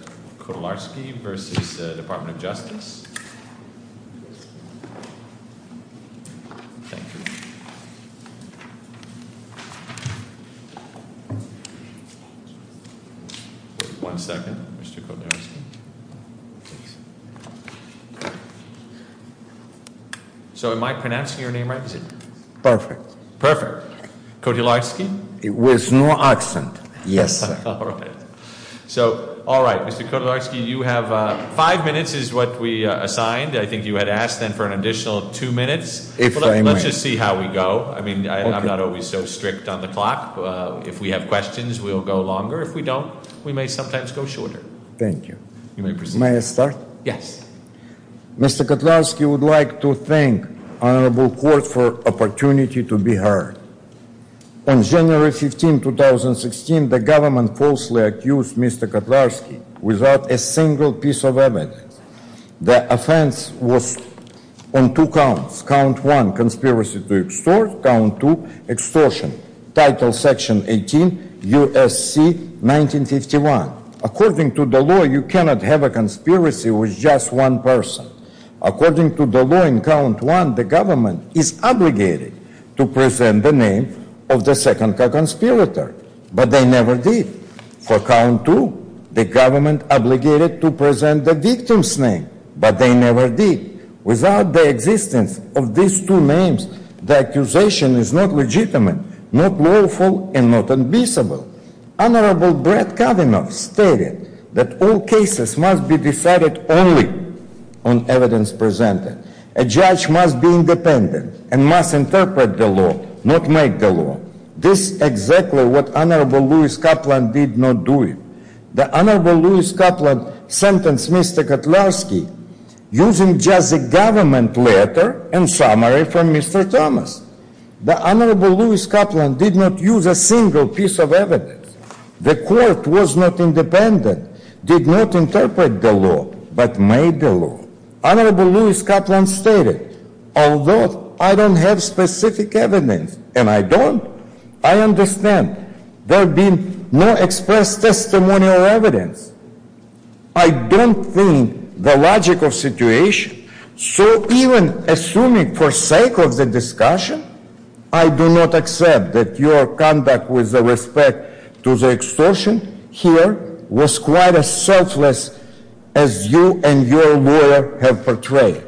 Mr. Kotlarsky v. Department of Justice One second, Mr. Kotlarsky So am I pronouncing your name right? Perfect Perfect Kotlarsky? With no accent, yes sir So, all right, Mr. Kotlarsky, you have five minutes is what we assigned. I think you had asked then for an additional two minutes. If I may Let's just see how we go. I mean, I'm not always so strict on the clock. If we have questions, we'll go longer. If we don't, we may sometimes go shorter. Thank you You may proceed May I start? Yes Mr. Kotlarsky, I would like to thank the Honorable Court for the opportunity to be heard. On January 15, 2016, the government falsely accused Mr. Kotlarsky without a single piece of evidence. The offense was on two counts. Count one, conspiracy to extort. Count two, extortion. Title section 18, U.S.C. 1951. According to the law, you cannot have a conspiracy with just one person. According to the law in count one, the government is obligated to present the name of the second conspirator. But they never did. For count two, the government obligated to present the victim's name, but they never did. Without the existence of these two names, the accusation is not legitimate, not lawful, and not unfeasible. Honorable Brett Kavanaugh stated that all cases must be decided only on evidence presented. A judge must be independent and must interpret the law, not make the law. This is exactly what Honorable Louis Kaplan did not do. The Honorable Louis Kaplan sentenced Mr. Kotlarsky using just a government letter and summary from Mr. Thomas. The Honorable Louis Kaplan did not use a single piece of evidence. The court was not independent, did not interpret the law, but made the law. Honorable Louis Kaplan stated, although I don't have specific evidence, and I don't, I understand. There have been no expressed testimonial evidence. I don't think the logical situation, so even assuming for sake of the discussion, I do not accept that your conduct with respect to the extortion here was quite as selfless as you and your lawyer have portrayed.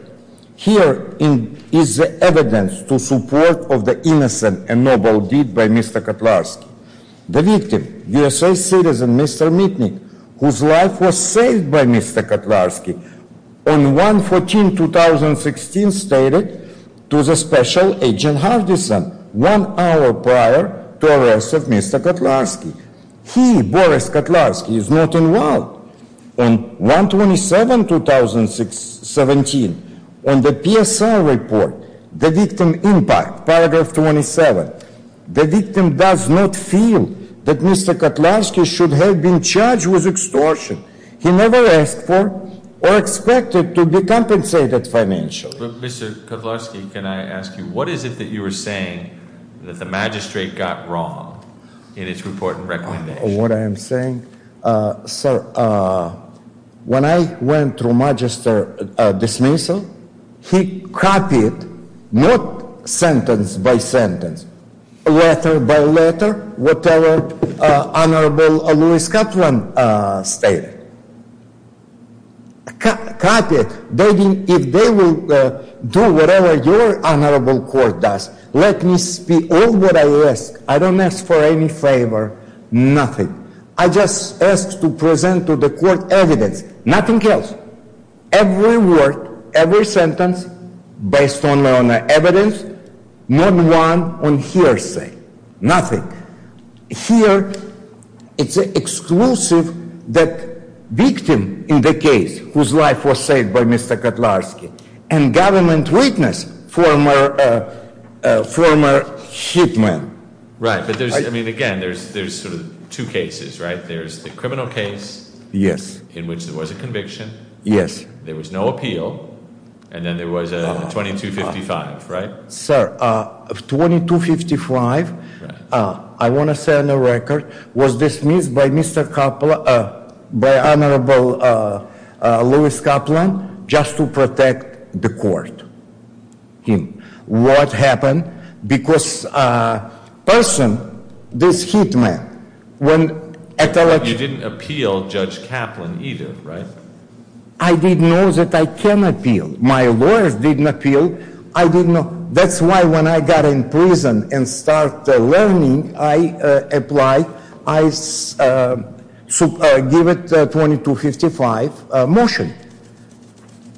Here is the evidence to support of the innocent and noble deed by Mr. Kotlarsky. The victim, USA citizen Mr. Mitnick, whose life was saved by Mr. Kotlarsky, on 1-14-2016, stated to the special agent Hardison one hour prior to arrest of Mr. Kotlarsky. He, Boris Kotlarsky, is not involved. On 1-27-2017, on the PSI report, the victim impact, paragraph 27, the victim does not feel that Mr. Kotlarsky should have been charged with extortion. He never asked for or expected to be compensated financially. Mr. Kotlarsky, can I ask you, what is it that you were saying that the magistrate got wrong in its report and recommendation? What I am saying? Sir, when I went through magistrate dismissal, he copied, not sentence by sentence, letter by letter, whatever Honorable Louis Cutland stated. Copied. If they will do whatever your Honorable Court does, let me speak. All what I ask, I don't ask for any favor, nothing. I just ask to present to the court evidence, nothing else. Every word, every sentence, based on evidence, not one on hearsay, nothing. Here, it's exclusive that victim in the case, whose life was saved by Mr. Kotlarsky, and government witness, former hit man. Right, but there's, I mean, again, there's sort of two cases, right? There's the criminal case. Yes. In which there was a conviction. Yes. There was no appeal. And then there was a 2255, right? Sir, 2255, I want to say on the record, was dismissed by Honorable Louis Cutland just to protect the court. What happened? Because person, this hit man. You didn't appeal Judge Cutland either, right? I didn't know that I can appeal. My lawyers didn't appeal. I didn't know. That's why when I got in prison and start learning, I applied. I give it 2255 motion.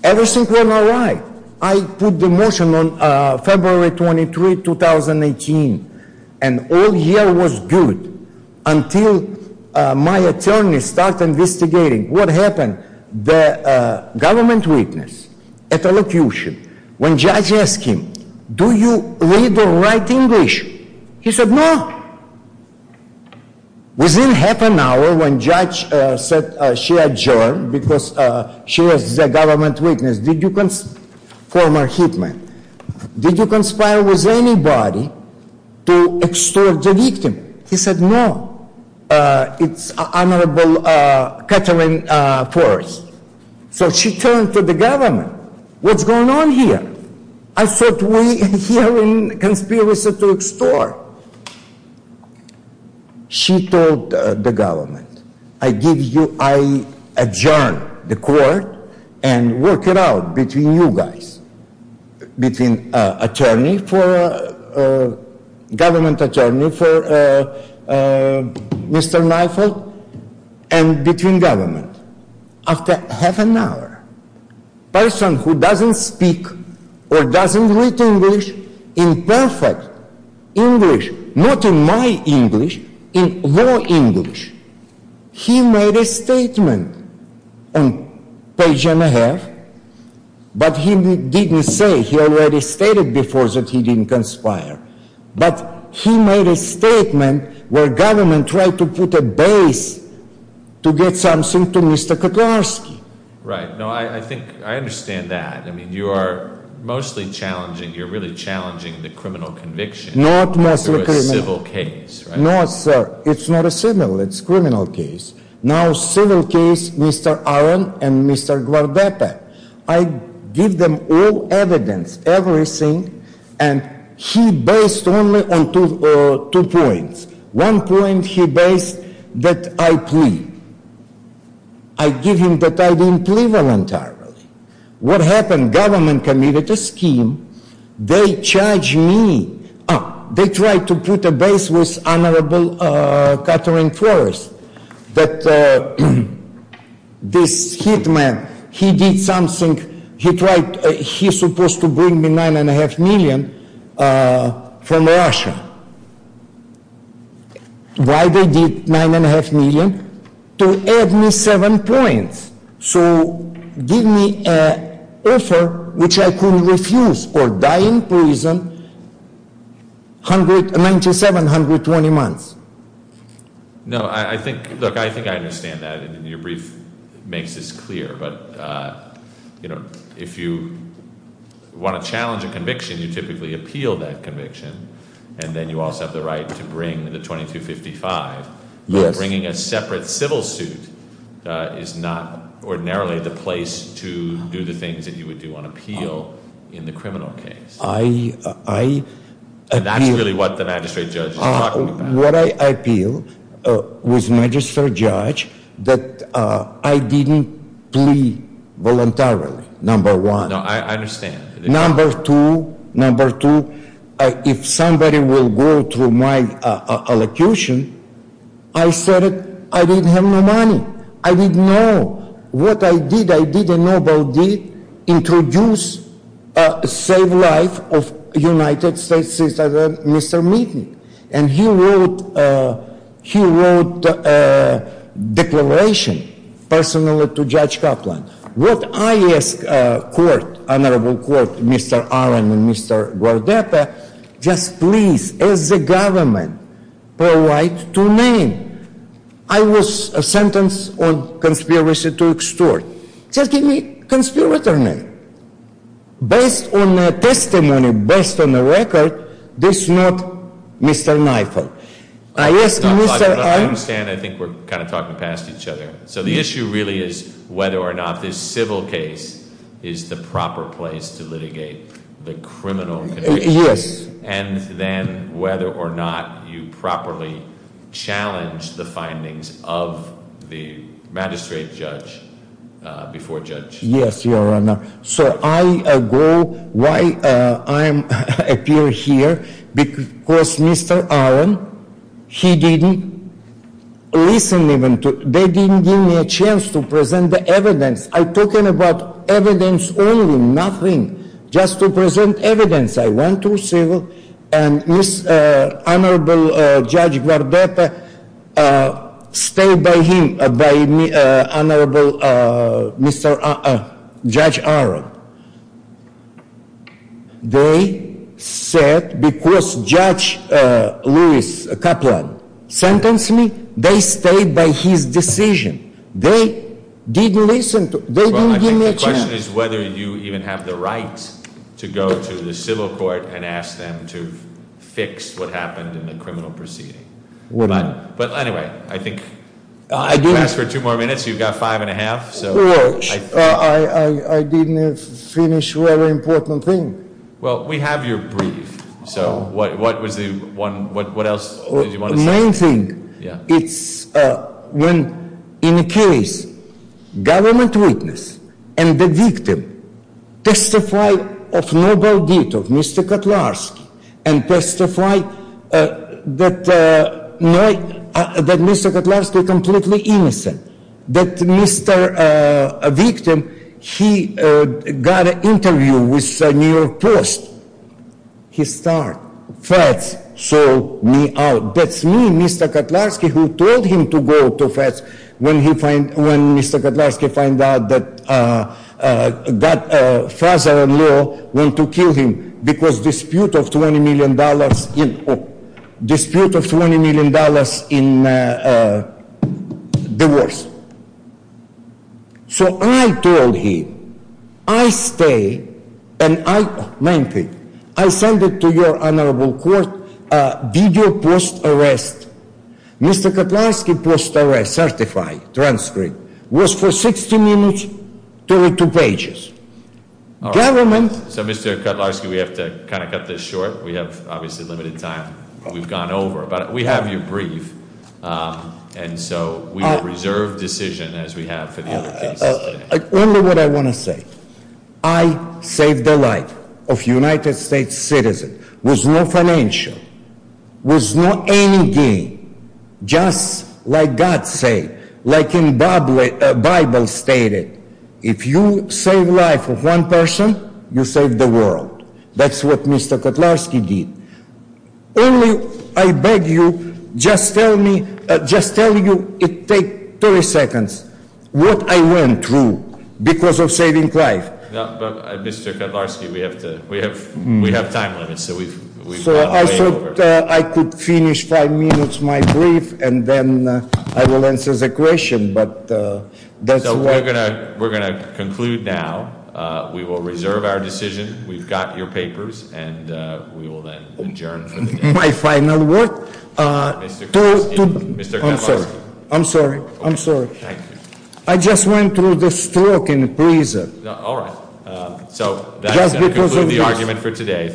Everything went all right. I put the motion on February 23, 2018. And all year was good until my attorney start investigating what happened. The government witness at the location, when judge ask him, do you read or write English? He said, no. Within half an hour when judge said she adjourned because she was the government witness, did you, former hit man, did you conspire with anybody to extort the victim? He said, no. It's Honorable Catherine Forrest. So she turned to the government. What's going on here? I thought we here in conspiracy to extort. She told the government, I give you, I adjourn the court and work it out between you guys. Between attorney for, government attorney for Mr. Mifold and between government. After half an hour, person who doesn't speak or doesn't read English in perfect English, not in my English, in your English, he made a statement on page and a half. But he didn't say, he already stated before that he didn't conspire. But he made a statement where government tried to put a base to get something to Mr. Kotlarski. Right. No, I think, I understand that. I mean, you are mostly challenging, you're really challenging the criminal conviction. Not mostly criminal. Through a civil case, right? No, sir. It's not a civil, it's criminal case. Now civil case, Mr. Allen and Mr. Guardetta. I give them all evidence, everything, and he based only on two points. One point he based that I plead. I give him that I didn't plead voluntarily. What happened? Government committed a scheme. They charge me. They tried to put a base with Honorable Catherine Forrest. That this hit man, he did something, he tried, he supposed to bring me nine and a half million from Russia. Why they did nine and a half million? To add me seven points. So give me an offer which I could refuse or die in prison 97, 120 months. No, I think, look, I think I understand that and your brief makes this clear. But if you want to challenge a conviction, you typically appeal that conviction. And then you also have the right to bring the 2255. Yes. Bringing a separate civil suit is not ordinarily the place to do the things that you would do on appeal in the criminal case. I appeal. And that's really what the magistrate judge is talking about. What I appeal with magistrate judge that I didn't plead voluntarily, number one. No, I understand. Number two, number two, if somebody will go through my elocution, I said I didn't have no money. I didn't know. What I did, I did a noble deed, introduce, save life of United States citizen, Mr. Meekin. And he wrote, he wrote a declaration personally to Judge Kaplan. What I ask court, honorable court, Mr. Allen and Mr. Guardetta, just please, as a government, provide two names. I was sentenced on conspiracy to extort. Just give me conspirator name. Based on my testimony, based on the record, this is not Mr. Kneifer. I ask Mr. Allen. I understand. I think we're kind of talking past each other. So the issue really is whether or not this civil case is the proper place to litigate the criminal conviction. Yes. And then whether or not you properly challenge the findings of the magistrate judge before judge. Yes, Your Honor. So I go, why I appear here, because Mr. Allen, he didn't listen even to, they didn't give me a chance to present the evidence. I'm talking about evidence only, nothing. Just to present evidence. And this honorable Judge Guardetta stayed by him, by honorable Judge Allen. They said, because Judge Lewis Kaplan sentenced me, they stayed by his decision. They didn't listen to, they didn't give me a chance. The question is whether you even have the right to go to the civil court and ask them to fix what happened in the criminal proceeding. But anyway, I think, if you ask for two more minutes, you've got five and a half, so. I didn't finish very important thing. Well, we have your brief. So what was the one, what else did you want to say? It's when, in case, government witness and the victim testify of noble deed of Mr. Kutlarski. And testify that Mr. Kutlarski completely innocent. That Mr. victim, he got an interview with New York Post. He start, Feds sold me out. That's me, Mr. Kutlarski, who told him to go to Feds when Mr. Kutlarski find out that father-in-law went to kill him. Because dispute of $20 million in divorce. So I told him, I stay and I, main thing, I send it to your honorable court, video post arrest. Mr. Kutlarski post arrest certified transcript was for 60 minutes, 32 pages. Government- So Mr. Kutlarski, we have to kind of cut this short. We have obviously limited time. We've gone over, but we have your brief. And so we reserve decision as we have for the other cases. Only what I want to say. I saved the life of United States citizen. Was no financial. Was not any gain. Just like God say. Like in Bible stated. If you save life of one person, you save the world. That's what Mr. Kutlarski did. Only, I beg you, just tell me, just tell you, it take 30 seconds. What I went through. Because of saving life. Mr. Kutlarski, we have to, we have time limit. So we've gone way over. So I thought I could finish five minutes my brief. And then I will answer the question. But that's what- So we're going to conclude now. We will reserve our decision. We've got your papers. And we will then adjourn for the day. My final word. Mr. Kutlarski. I'm sorry. I'm sorry. I just went through the stroke in prison. All right. So that's going to conclude the argument for today.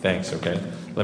Thanks. Okay.